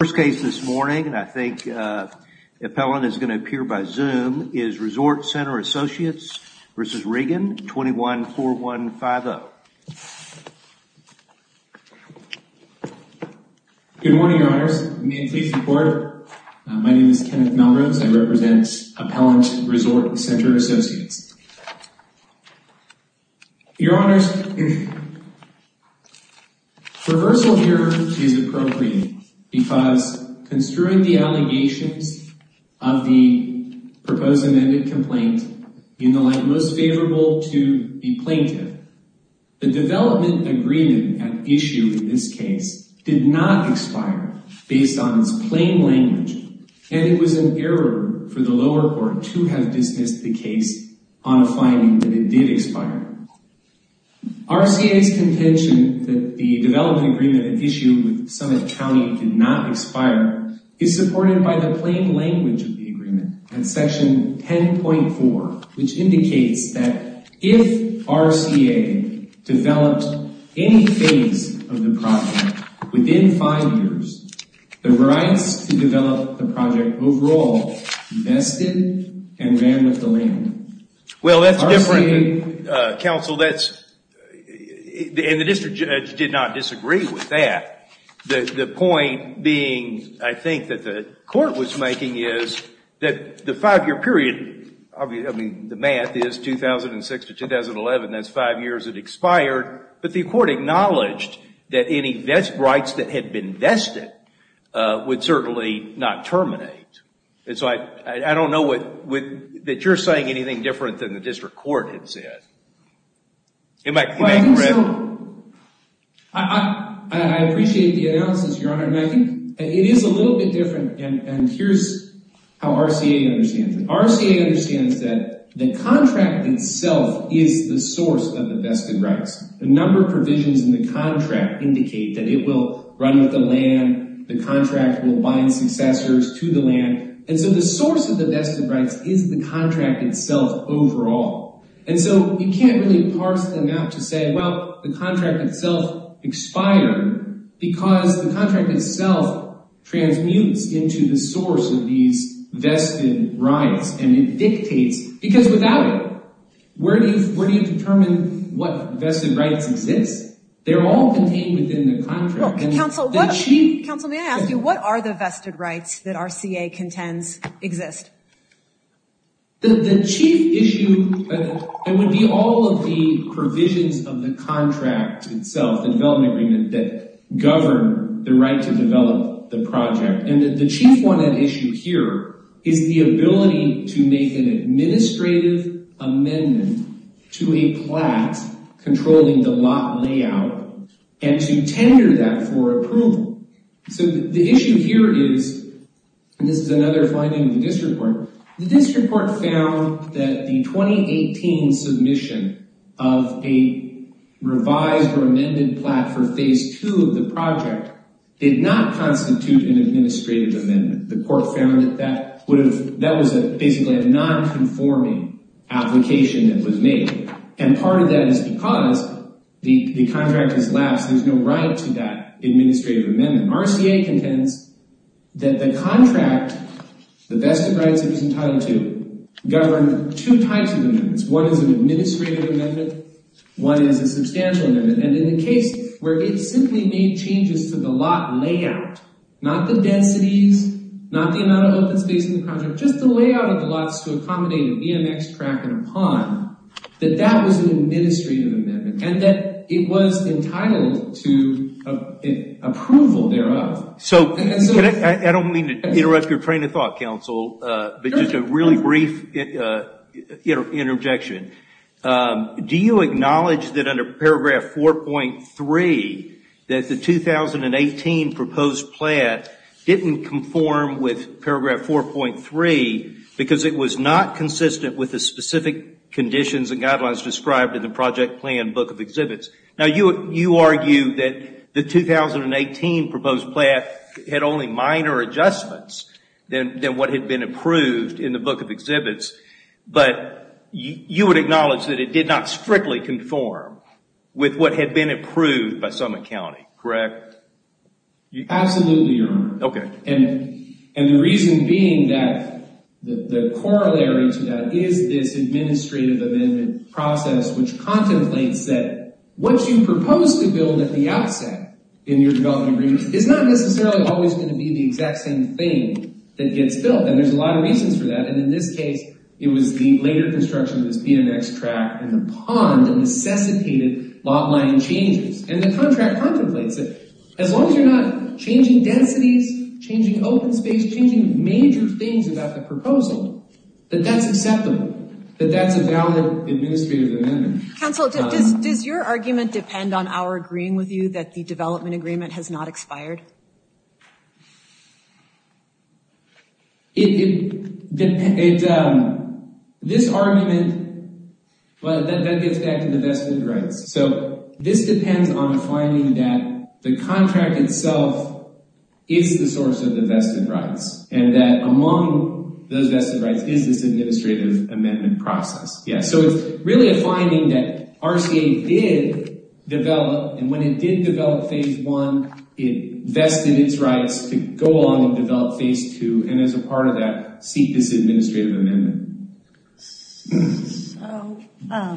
First case this morning, and I think the appellant is going to appear by Zoom, is Resort Center Associates v. Regan, 21-4150. Good morning, Your Honors, may it please the Court, my name is Kenneth Melrose, I represent Appellant Resort Center Associates. Your Honors, traversal here is appropriate because, construing the allegations of the proposed amended complaint in the light most favorable to the plaintiff, the development agreement at issue in this case did not expire based on its plain language, and it was an dismissed the case on a finding that it did expire. RCA's contention that the development agreement at issue with Summit County did not expire is supported by the plain language of the agreement at Section 10.4, which indicates that if RCA developed any phase of the project within five years, the rights to develop the project would be vested and ran with the land. Well, that's different, Counsel, and the district judge did not disagree with that. The point being, I think, that the Court was making is that the five-year period, I mean, the math is 2006 to 2011, that's five years it expired, but the Court acknowledged that any rights that had been vested would certainly not terminate. I don't know that you're saying anything different than the district court had said. Well, I think so. I appreciate the analysis, Your Honor, and I think it is a little bit different, and here's how RCA understands it. RCA understands that the contract itself is the source of the vested rights. The number of provisions in the contract indicate that it will run with the land, the contract will bind successors to the land, and so the source of the vested rights is the contract itself overall, and so you can't really parse them out to say, well, the contract itself expired because the contract itself transmutes into the source of these vested rights, and it dictates, because without it, where do you determine what vested rights exist? They're all contained within the contract. Counsel, may I ask you, what are the vested rights that RCA contends exist? The chief issue would be all of the provisions of the contract itself, the development agreement that govern the right to develop the project, and the chief one at issue here is the ability to make an administrative amendment to a plat controlling the lot layout, and to tender that for approval. So the issue here is, and this is another finding in the district court, the district court found that the 2018 submission of a revised or amended plat for phase two of the project did not constitute an administrative amendment. The court found that that was basically a non-conforming application that was made, and part of that is because the contract has lapsed. There's no right to that administrative amendment. RCA contends that the contract, the vested rights it was entitled to, govern two types of amendments. One is an administrative amendment, one is a substantial amendment, and in the case where it simply made changes to the lot layout, not the densities, not the amount of open space in the project, just the layout of the lots to accommodate an EMX track and a pond, that that was an administrative amendment, and that it was entitled to approval thereof. I don't mean to interrupt your train of thought, counsel, but just a really brief interjection. Do you acknowledge that under paragraph 4.3 that the 2018 proposed plat didn't conform with paragraph 4.3 because it was not consistent with the specific conditions and guidelines described in the project plan book of exhibits? Now, you argue that the 2018 proposed plat had only minor adjustments than what had been approved in the book of exhibits, but you would acknowledge that it did not strictly conform with what had been approved by Summit County, correct? Absolutely, Your Honor. Okay. And the reason being that the corollary to that is this administrative amendment process which contemplates that what you propose to build at the outset in your development agreement is not necessarily always going to be the exact same thing that gets built. And there's a lot of reasons for that. And in this case, it was the later construction of this BMX track and the pond that necessitated lot line changes. And the contract contemplates it. As long as you're not changing densities, changing open space, changing major things about the proposal, that that's acceptable, that that's a valid administrative amendment. Counsel, does your argument depend on our agreeing with you that the development agreement has not expired? This argument, well, that gets back to the vested rights. So this depends on finding that the contract itself is the source of the vested rights and that among those vested rights is this administrative amendment process. Yeah, so it's really a finding that RCA did develop. And when it did develop phase one, it vested its rights to go along and develop phase two and as a part of that seek this administrative amendment. So,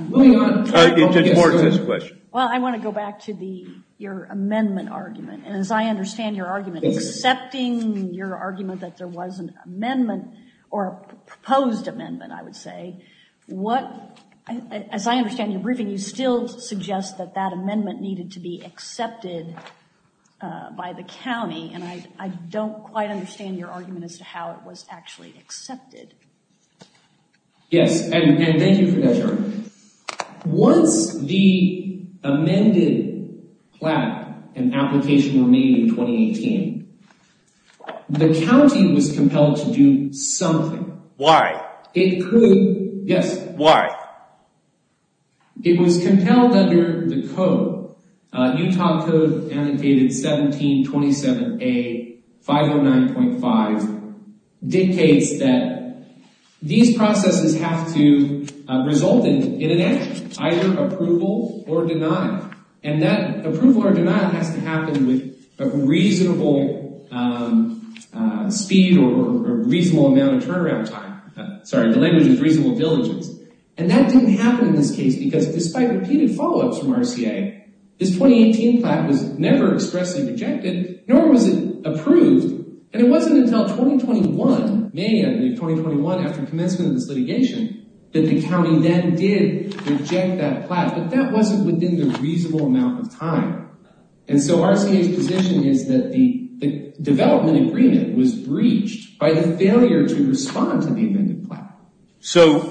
moving on. Judge Morton has a question. Well, I want to go back to your amendment argument. And as I understand your argument, accepting your argument that there was an amendment or a proposed amendment, I would say, as I understand your briefing, you still suggest that that amendment needed to be accepted by the county. And I don't quite understand your argument as to how it was actually accepted. Yes, and thank you for that, Jodi. Once the amended plan and application were made in 2018, the county was compelled to do something. Why? It could, yes. Why? It was compelled under the code. Utah code annotated 1727A 509.5 dictates that these processes have to result in an action, either approval or deny. And that approval or deny has to happen with a reasonable speed or a reasonable amount of turnaround time. Sorry, the language is reasonable villages. And that didn't happen in this case, because despite repeated follow-ups from RCA, this 2018 plan was never expressly rejected, nor was it approved. And it wasn't until 2021, May of 2021, after commencement of this litigation, that the county then did reject that plan. But that wasn't within the reasonable amount of time. And so RCA's position is that the development agreement was breached by the failure to respond to the amended plan. So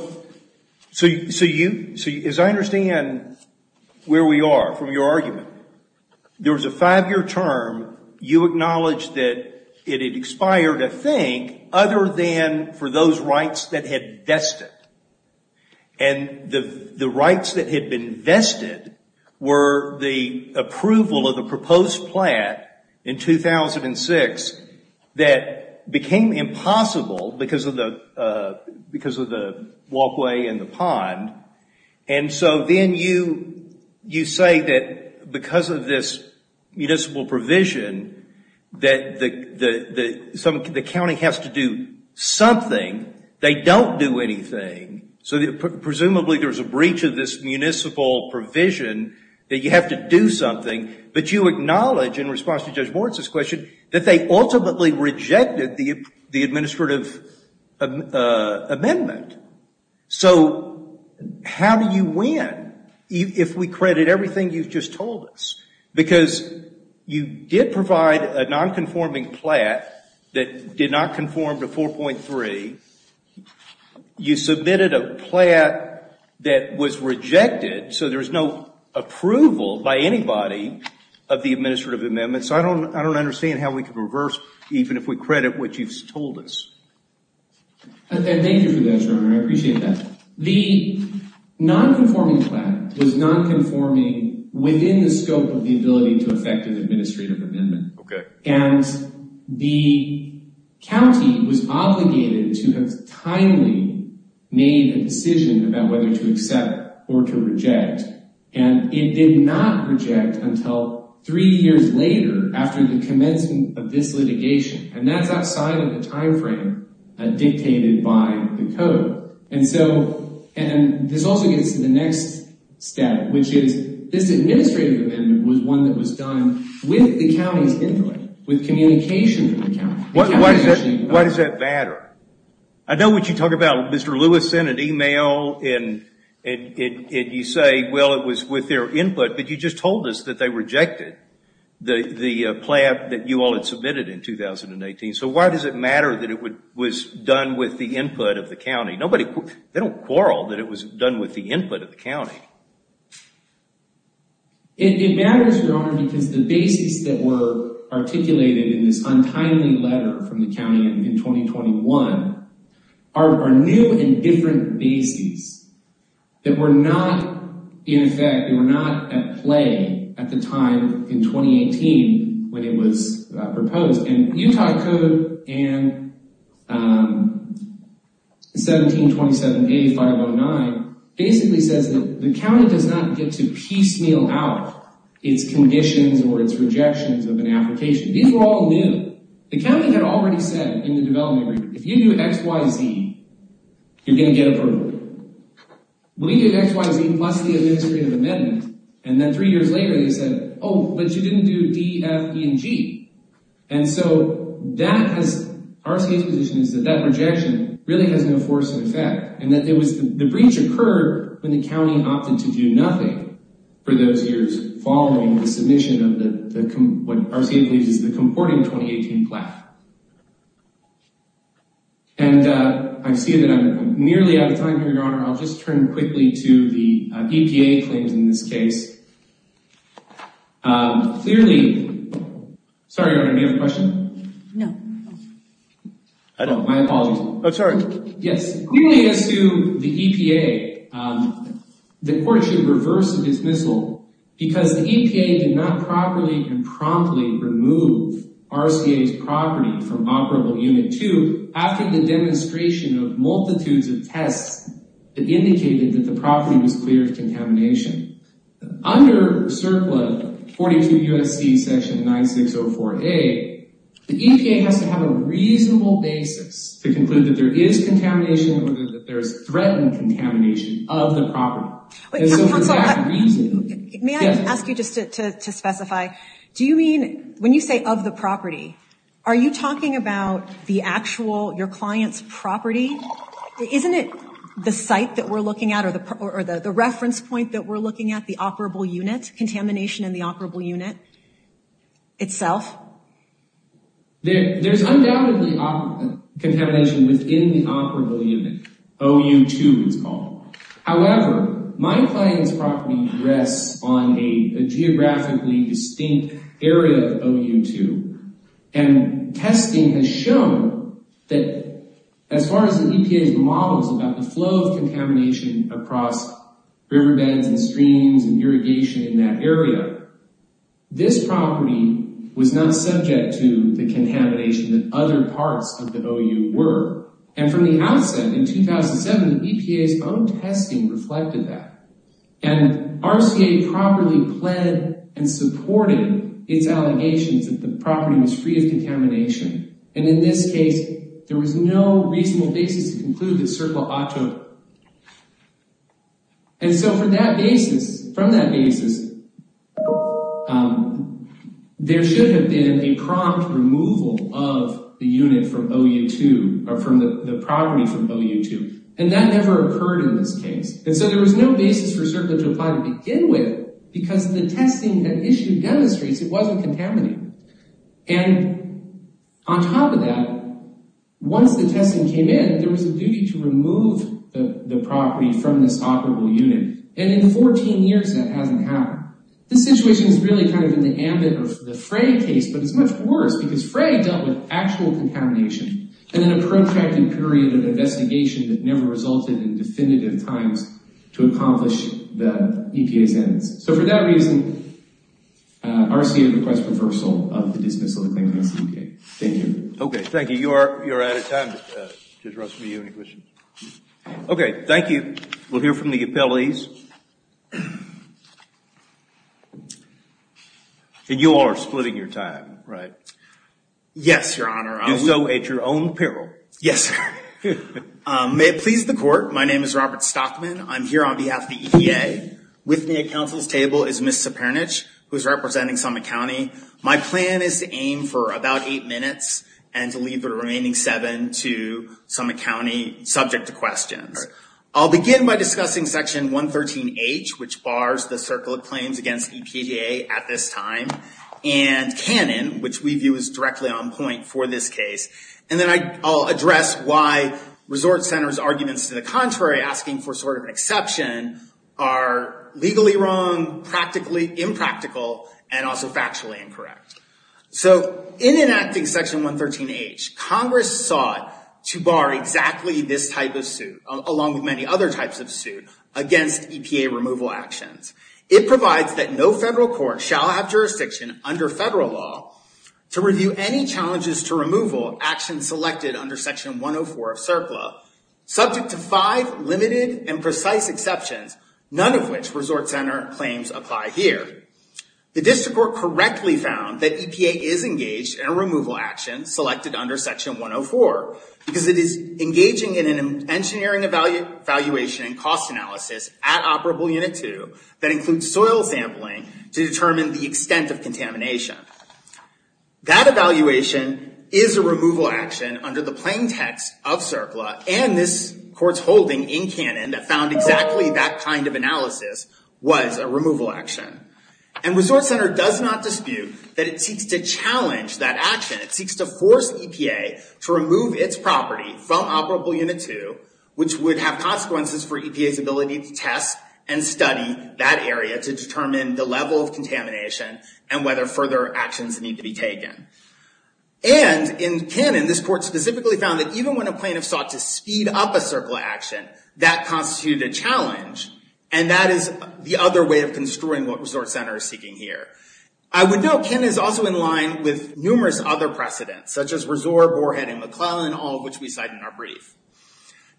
as I understand where we are from your argument, there was a five-year term. You acknowledged that it had expired, I think, other than for those rights that had vested. And the rights that had been vested were the approval of the proposed plan in 2006 that became impossible because of the walkway and the pond. And so then you say that because of this municipal provision that the county has to do something. They don't do anything. So presumably there's a breach of this municipal provision that you have to do something. But you acknowledge, in response to Judge Moritz's question, that they ultimately rejected the administrative amendment. So how do you win if we credit everything you've just told us? Because you did provide a nonconforming plat that did not conform to 4.3. You submitted a plat that was rejected. So there's no approval by anybody of the administrative amendment. So I don't understand how we can reverse, even if we credit what you've told us. Thank you for that, Your Honor. I appreciate that. The nonconforming plat was nonconforming within the scope of the ability to effect an administrative amendment. OK. And the county was obligated to have timely made a decision about whether to accept or to reject. And it did not reject until three years later, after the commencement of this litigation. And that's outside of the time frame dictated by the code. And this also gets to the next step, which is this administrative amendment was one that was done with the county's input, with communication from the county. Why does that matter? I know what you talk about, Mr. Lewis, in an email, and you say, well, it was with their input. But you just told us that they rejected the plat that you all had submitted in 2018. So why does it matter that it was done with the input of the county? They don't quarrel that it was done with the input of the county. It matters, Your Honor, because the bases that were articulated in this untimely letter from the county in 2021 are new and different bases that were not in effect. They were not at play at the time in 2018 when it was proposed. And Utah Code and 1727A509 basically says that the county does not get to piecemeal out its conditions or its rejections of an application. These were all new. The county had already said in the development agreement, if you do X, Y, Z, you're going to get approval. We did X, Y, Z plus the administrative amendment. And then three years later, they said, oh, but you didn't do D, F, E, and G. And so RCA's position is that that rejection really has no force of effect. And the breach occurred when the county opted to do nothing for those years following the submission of what RCA believes is the comporting 2018 plat. And I see that I'm nearly out of time here, Your Honor. I'll just turn quickly to the EPA claims in this case. Clearly, sorry, Your Honor, do you have a question? No. Oh, my apologies. Oh, sorry. Yes. Clearly, as to the EPA, the court should reverse the dismissal because the EPA did not properly and promptly remove RCA's property from Operable Unit 2 after the demonstration of multitudes of tests that indicated that the property was clear of contamination. Under CERCLA 42 U.S.C. section 9604A, the EPA has to have a reasonable basis to conclude that there is contamination or that there is threatened contamination of the property. And so for that reason— May I ask you just to specify, do you mean, when you say of the property, are you talking about the actual, your client's property? Isn't it the site that we're looking at or the reference point that we're looking at, the operable unit, contamination in the operable unit itself? There's undoubtedly contamination within the operable unit. OU2, it's called. However, my client's property rests on a geographically distinct area of OU2, and testing has shown that as far as the EPA's models about the flow of contamination across riverbeds and streams and irrigation in that area, this property was not subject to the contamination that other parts of the OU were. And from the outset, in 2007, the EPA's own testing reflected that. And RCA properly pled and supported its allegations that the property was free of contamination. And in this case, there was no reasonable basis to conclude that CERCLA ought to— And that never occurred in this case. And so there was no basis for CERCLA to apply to begin with because the testing that issue demonstrates it wasn't contaminated. And on top of that, once the testing came in, there was a duty to remove the property from this operable unit. And in 14 years, that hasn't happened. This situation is really kind of in the ambit of the Frey case, but it's much worse because Frey dealt with actual contamination and in a protracted period of investigation that never resulted in definitive times to accomplish the EPA sentence. So for that reason, RCA requests reversal of the dismissal of the claim against the EPA. Thank you. Okay, thank you. You're out of time. Did the rest of you have any questions? Okay, thank you. We'll hear from the appellees. And you are splitting your time, right? Yes, Your Honor. Do so at your own peril. Yes, sir. May it please the court, my name is Robert Stockman. I'm here on behalf of the EPA. With me at counsel's table is Ms. Cepernic who is representing Summit County. My plan is to aim for about eight minutes and to leave the remaining seven to Summit County subject to questions. I'll begin by discussing Section 113H, which bars the circle of claims against EPA at this time. And Canon, which we view as directly on point for this case. And then I'll address why Resort Center's arguments to the contrary, asking for sort of an exception, are legally wrong, practically impractical, and also factually incorrect. So, in enacting Section 113H, Congress sought to bar exactly this type of suit, along with many other types of suit, against EPA removal actions. It provides that no federal court shall have jurisdiction under federal law to review any challenges to removal actions selected under Section 104 of CERCLA. Subject to five limited and precise exceptions, none of which Resort Center claims apply here. The district court correctly found that EPA is engaged in a removal action selected under Section 104, because it is engaging in an engineering evaluation and cost analysis at Operable Unit 2 that includes soil sampling to determine the extent of contamination. That evaluation is a removal action under the plain text of CERCLA and this court's holding in Canon that found exactly that kind of analysis was a removal action. And Resort Center does not dispute that it seeks to challenge that action. It seeks to force EPA to remove its property from Operable Unit 2, which would have consequences for EPA's ability to test and study that area to determine the level of contamination and whether further actions need to be taken. And in Canon, this court specifically found that even when a plaintiff sought to speed up a CERCLA action, that constituted a challenge, and that is the other way of construing what Resort Center is seeking here. I would note Canon is also in line with numerous other precedents, such as Resort, Borehead, and McClellan, all of which we cite in our brief.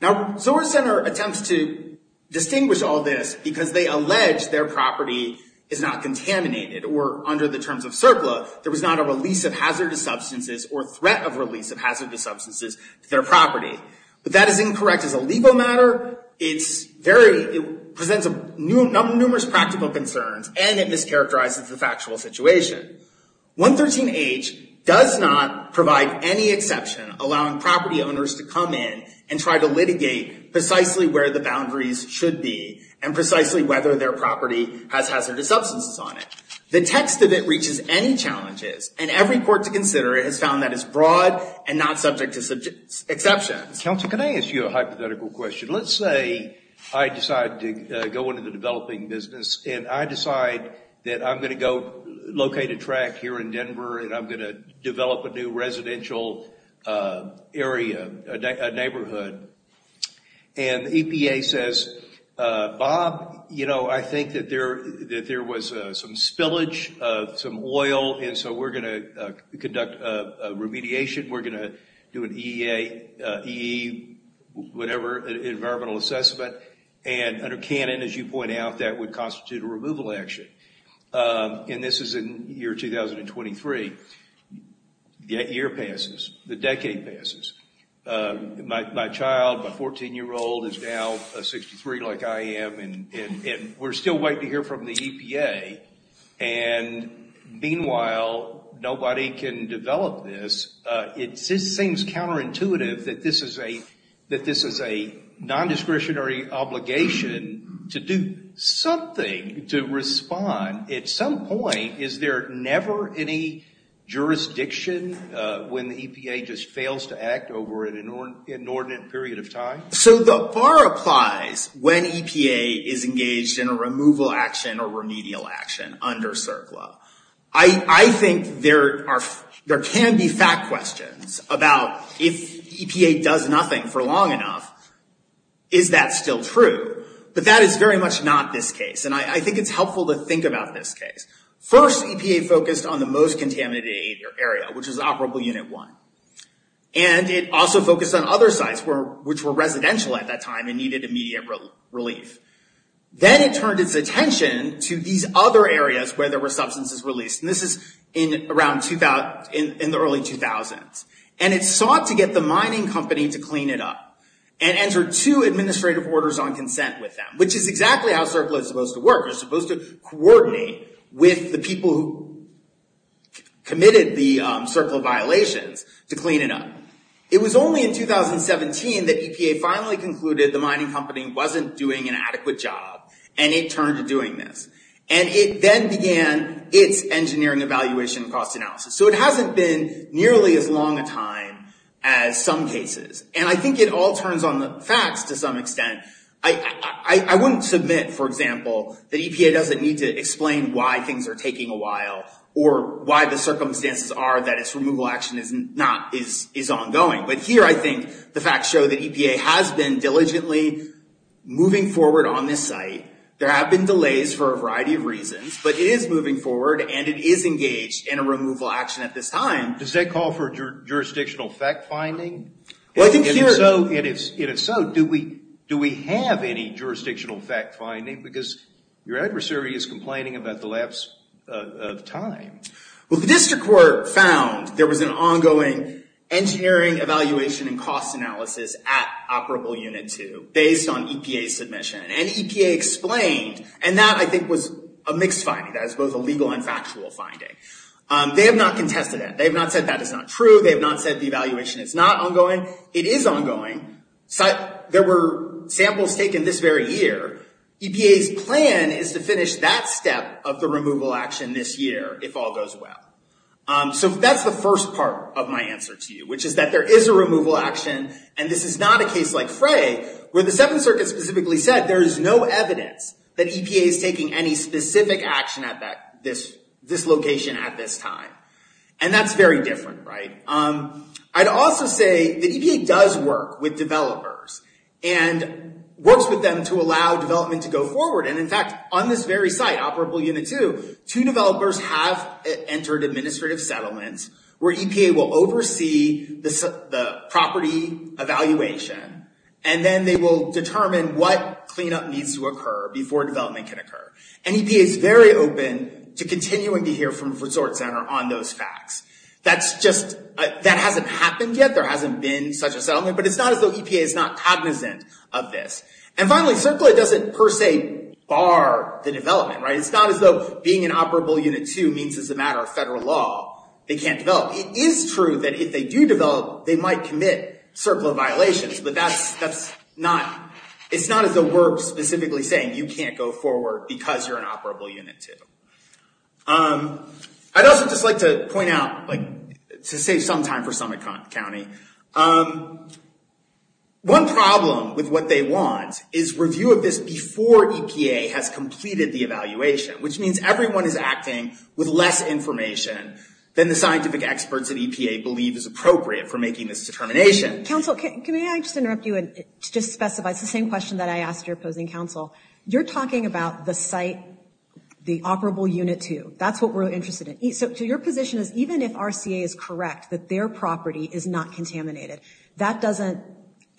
Now, Resort Center attempts to distinguish all this because they allege their property is not contaminated, or under the terms of CERCLA, there was not a release of hazardous substances or threat of release of hazardous substances to their property. But that is incorrect as a legal matter. However, it presents numerous practical concerns, and it mischaracterizes the factual situation. 113H does not provide any exception, allowing property owners to come in and try to litigate precisely where the boundaries should be, and precisely whether their property has hazardous substances on it. The text of it reaches any challenges, and every court to consider it has found that it's broad and not subject to exceptions. Counsel, can I ask you a hypothetical question? Let's say I decide to go into the developing business, and I decide that I'm going to go locate a track here in Denver, and I'm going to develop a new residential area, a neighborhood, and the EPA says, Bob, you know, I think that there was some spillage of some oil, and so we're going to conduct a remediation. We're going to do an EE, whatever, environmental assessment. And under canon, as you point out, that would constitute a removal action. And this is in the year 2023. That year passes. The decade passes. My child, my 14-year-old, is now 63 like I am, and we're still waiting to hear from the EPA. And meanwhile, nobody can develop this. It just seems counterintuitive that this is a nondiscretionary obligation to do something to respond. At some point, is there never any jurisdiction when the EPA just fails to act over an inordinate period of time? So the bar applies when EPA is engaged in a removal action or remedial action under CERCLA. I think there can be fact questions about if EPA does nothing for long enough, is that still true? But that is very much not this case, and I think it's helpful to think about this case. First, EPA focused on the most contaminated area, which is Operable Unit 1. And it also focused on other sites which were residential at that time and needed immediate relief. Then it turned its attention to these other areas where there were substances released. And this is in the early 2000s. And it sought to get the mining company to clean it up and entered two administrative orders on consent with them, which is exactly how CERCLA is supposed to work. It's supposed to coordinate with the people who committed the CERCLA violations to clean it up. It was only in 2017 that EPA finally concluded the mining company wasn't doing an adequate job, and it turned to doing this. And it then began its engineering evaluation and cost analysis. So it hasn't been nearly as long a time as some cases. And I think it all turns on the facts to some extent. I wouldn't submit, for example, that EPA doesn't need to explain why things are taking a while or why the circumstances are that its removal action is ongoing. But here I think the facts show that EPA has been diligently moving forward on this site. There have been delays for a variety of reasons, but it is moving forward, and it is engaged in a removal action at this time. Does that call for jurisdictional fact-finding? And if so, do we have any jurisdictional fact-finding? Because your adversary is complaining about the lapse of time. Well, the district court found there was an ongoing engineering evaluation and cost analysis at Operable Unit 2 based on EPA's submission. And EPA explained, and that I think was a mixed finding. That was both a legal and factual finding. They have not contested that. They have not said that is not true. They have not said the evaluation is not ongoing. It is ongoing. There were samples taken this very year. EPA's plan is to finish that step of the removal action this year if all goes well. So that's the first part of my answer to you, which is that there is a removal action, and this is not a case like Frey where the Seventh Circuit specifically said there is no evidence that EPA is taking any specific action at this location at this time. And that's very different, right? I'd also say that EPA does work with developers and works with them to allow development to go forward. And, in fact, on this very site, Operable Unit 2, two developers have entered administrative settlements where EPA will oversee the property evaluation, and then they will determine what cleanup needs to occur before development can occur. And EPA is very open to continuing to hear from the resort center on those facts. That hasn't happened yet. There hasn't been such a settlement, but it's not as though EPA is not cognizant of this. And finally, CERCLA doesn't per se bar the development, right? It's not as though being in Operable Unit 2 means it's a matter of federal law. They can't develop. It is true that if they do develop, they might commit CERCLA violations, but it's not as though we're specifically saying you can't go forward because you're in Operable Unit 2. I'd also just like to point out, to save some time for Summit County, one problem with what they want is review of this before EPA has completed the evaluation, which means everyone is acting with less information than the scientific experts at EPA believe is appropriate for making this determination. Counsel, can I just interrupt you and just specify, it's the same question that I asked your opposing counsel. You're talking about the site, the Operable Unit 2. That's what we're interested in. So your position is even if RCA is correct that their property is not contaminated, that doesn't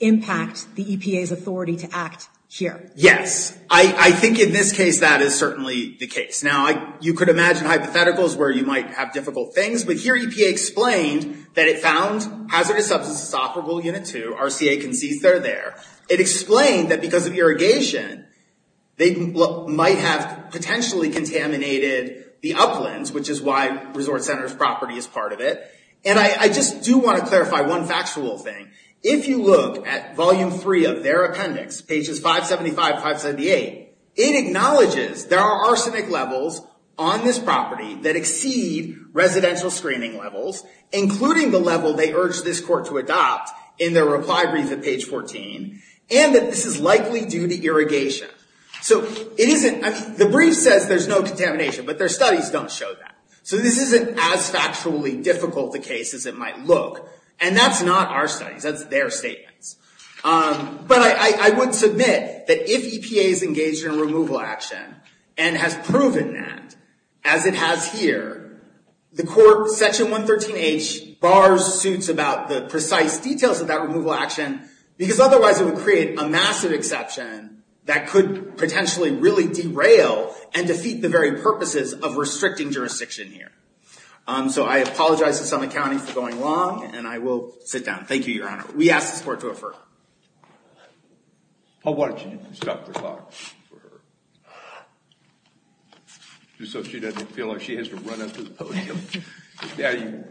impact the EPA's authority to act here. Yes. I think in this case that is certainly the case. Now, you could imagine hypotheticals where you might have difficult things, but here EPA explained that it found hazardous substances in Operable Unit 2. RCA concedes they're there. It explained that because of irrigation, they might have potentially contaminated the uplands, which is why Resort Center's property is part of it. And I just do want to clarify one factual thing. If you look at Volume 3 of their appendix, pages 575 and 578, it acknowledges there are arsenic levels on this property that exceed residential screening levels, including the level they urge this court to adopt in their reply brief at page 14, and that this is likely due to irrigation. So the brief says there's no contamination, but their studies don't show that. So this isn't as factually difficult a case as it might look, and that's not our studies. That's their statements. But I would submit that if EPA is engaged in a removal action and has proven that, as it has here, the court, Section 113H, bars suits about the precise details of that removal action, because otherwise it would create a massive exception that could potentially really derail and defeat the very purposes of restricting jurisdiction here. So I apologize to Summit County for going long, and I will sit down. Thank you, Your Honor. We ask this court to refer. Oh, why don't you stop the clock for her? So she doesn't feel like she has to run up to the podium. May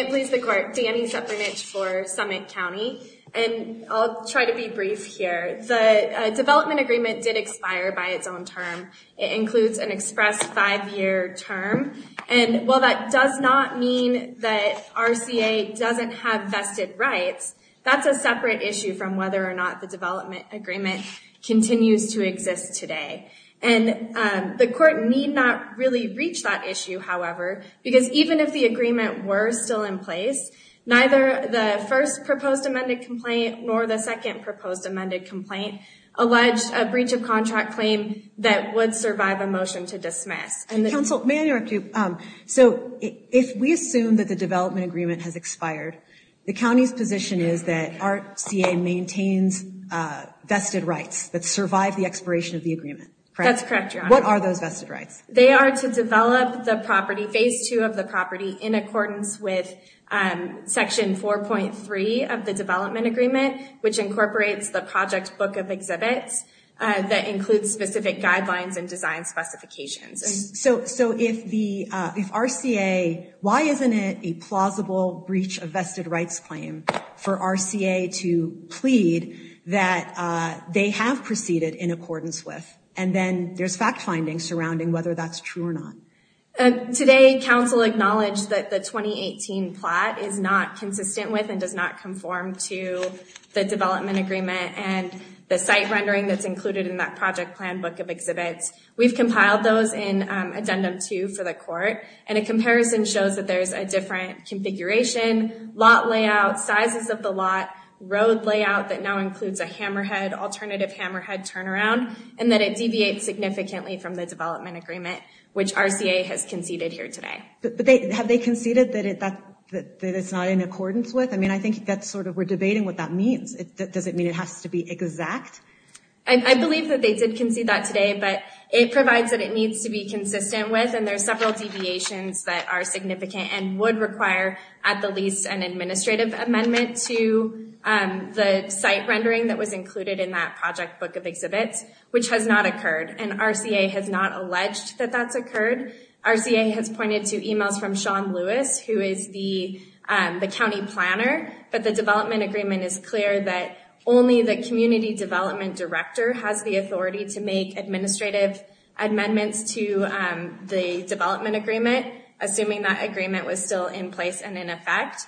it please the Court. Dani Sepernich for Summit County, and I'll try to be brief here. The development agreement did expire by its own term. It includes an express five-year term, and while that does not mean that RCA doesn't have vested rights, that's a separate issue from whether or not the development agreement continues to exist today. And the court need not really reach that issue, however, because even if the agreement were still in place, neither the first proposed amended complaint nor the second proposed amended complaint alleged a breach of contract claim that would survive a motion to dismiss. Counsel, may I interrupt you? So if we assume that the development agreement has expired, the county's position is that RCA maintains vested rights that survive the expiration of the agreement. That's correct, Your Honor. What are those vested rights? They are to develop the property, Phase 2 of the property, in accordance with Section 4.3 of the development agreement, which incorporates the project book of exhibits that includes specific guidelines and design specifications. So if RCA, why isn't it a plausible breach of vested rights claim for RCA to plead that they have proceeded in accordance with? And then there's fact finding surrounding whether that's true or not. Today, counsel acknowledged that the 2018 plot is not consistent with and does not conform to the development agreement and the site rendering that's included in that project plan book of exhibits. We've compiled those in Addendum 2 for the court, and a comparison shows that there's a different configuration, lot layout, sizes of the lot, road layout that now includes a hammerhead, alternative hammerhead turnaround, and that it deviates significantly from the development agreement, which RCA has conceded here today. But have they conceded that it's not in accordance with? I mean, I think that's sort of we're debating what that means. Does it mean it has to be exact? I believe that they did concede that today, but it provides that it needs to be consistent with, and there are several deviations that are significant and would require, at the least, an administrative amendment to the site rendering that was included in that project book of exhibits, which has not occurred, and RCA has not alleged that that's occurred. RCA has pointed to emails from Sean Lewis, who is the county planner, but the development agreement is clear that only the community development director has the authority to make administrative amendments to the development agreement, assuming that agreement was still in place and in effect,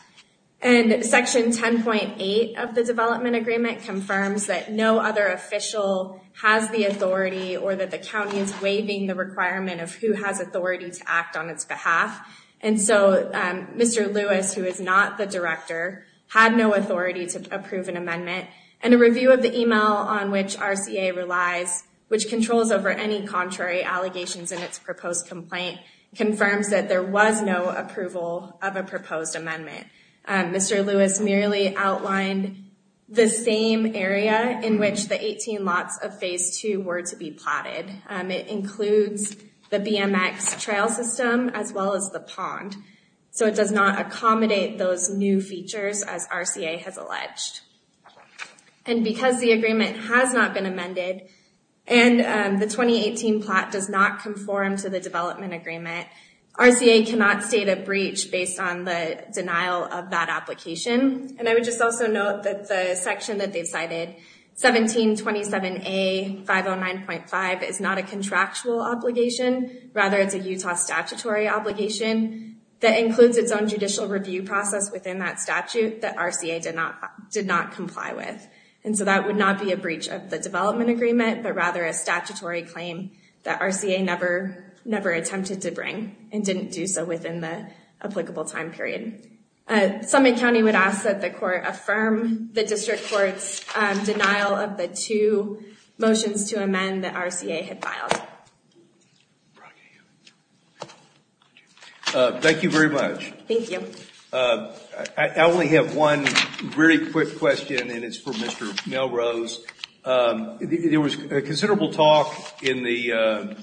and Section 10.8 of the development agreement confirms that no other official has the authority or that the county is waiving the requirement of who has authority to act on its behalf, and so Mr. Lewis, who is not the director, had no authority to approve an amendment, and a review of the email on which RCA relies, which controls over any contrary allegations in its proposed complaint, confirms that there was no approval of a proposed amendment. Mr. Lewis merely outlined the same area in which the 18 lots of Phase 2 were to be plotted. It includes the BMX trail system as well as the pond, so it does not accommodate those new features, as RCA has alleged, and because the agreement has not been amended and the 2018 plot does not conform to the development agreement, RCA cannot state a breach based on the denial of that application, and I would just also note that the section that they've cited, 1727A.509.5, is not a contractual obligation. Rather, it's a Utah statutory obligation that includes its own judicial review process within that statute that RCA did not comply with, and so that would not be a breach of the development agreement, but rather a statutory claim that RCA never attempted to bring and didn't do so within the applicable time period. Summit County would ask that the court affirm the district court's denial of the two motions to amend that RCA had filed. Thank you very much. Thank you. I only have one very quick question, and it's for Mr. Melrose. There was considerable talk today,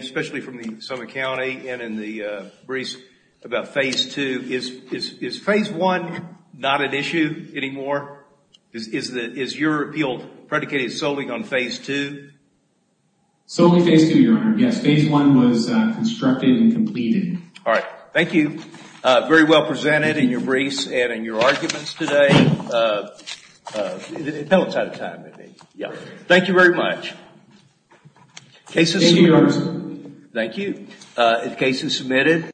especially from Summit County and in the briefs about Phase 2. Is Phase 1 not an issue anymore? Is your appeal predicated solely on Phase 2? Solely Phase 2, Your Honor. Yes, Phase 1 was constructed and completed. All right. Thank you. Very well presented in your briefs and in your arguments today. The panel's out of time, isn't it? Thank you very much. Thank you, Your Honor. Thank you. The case is submitted.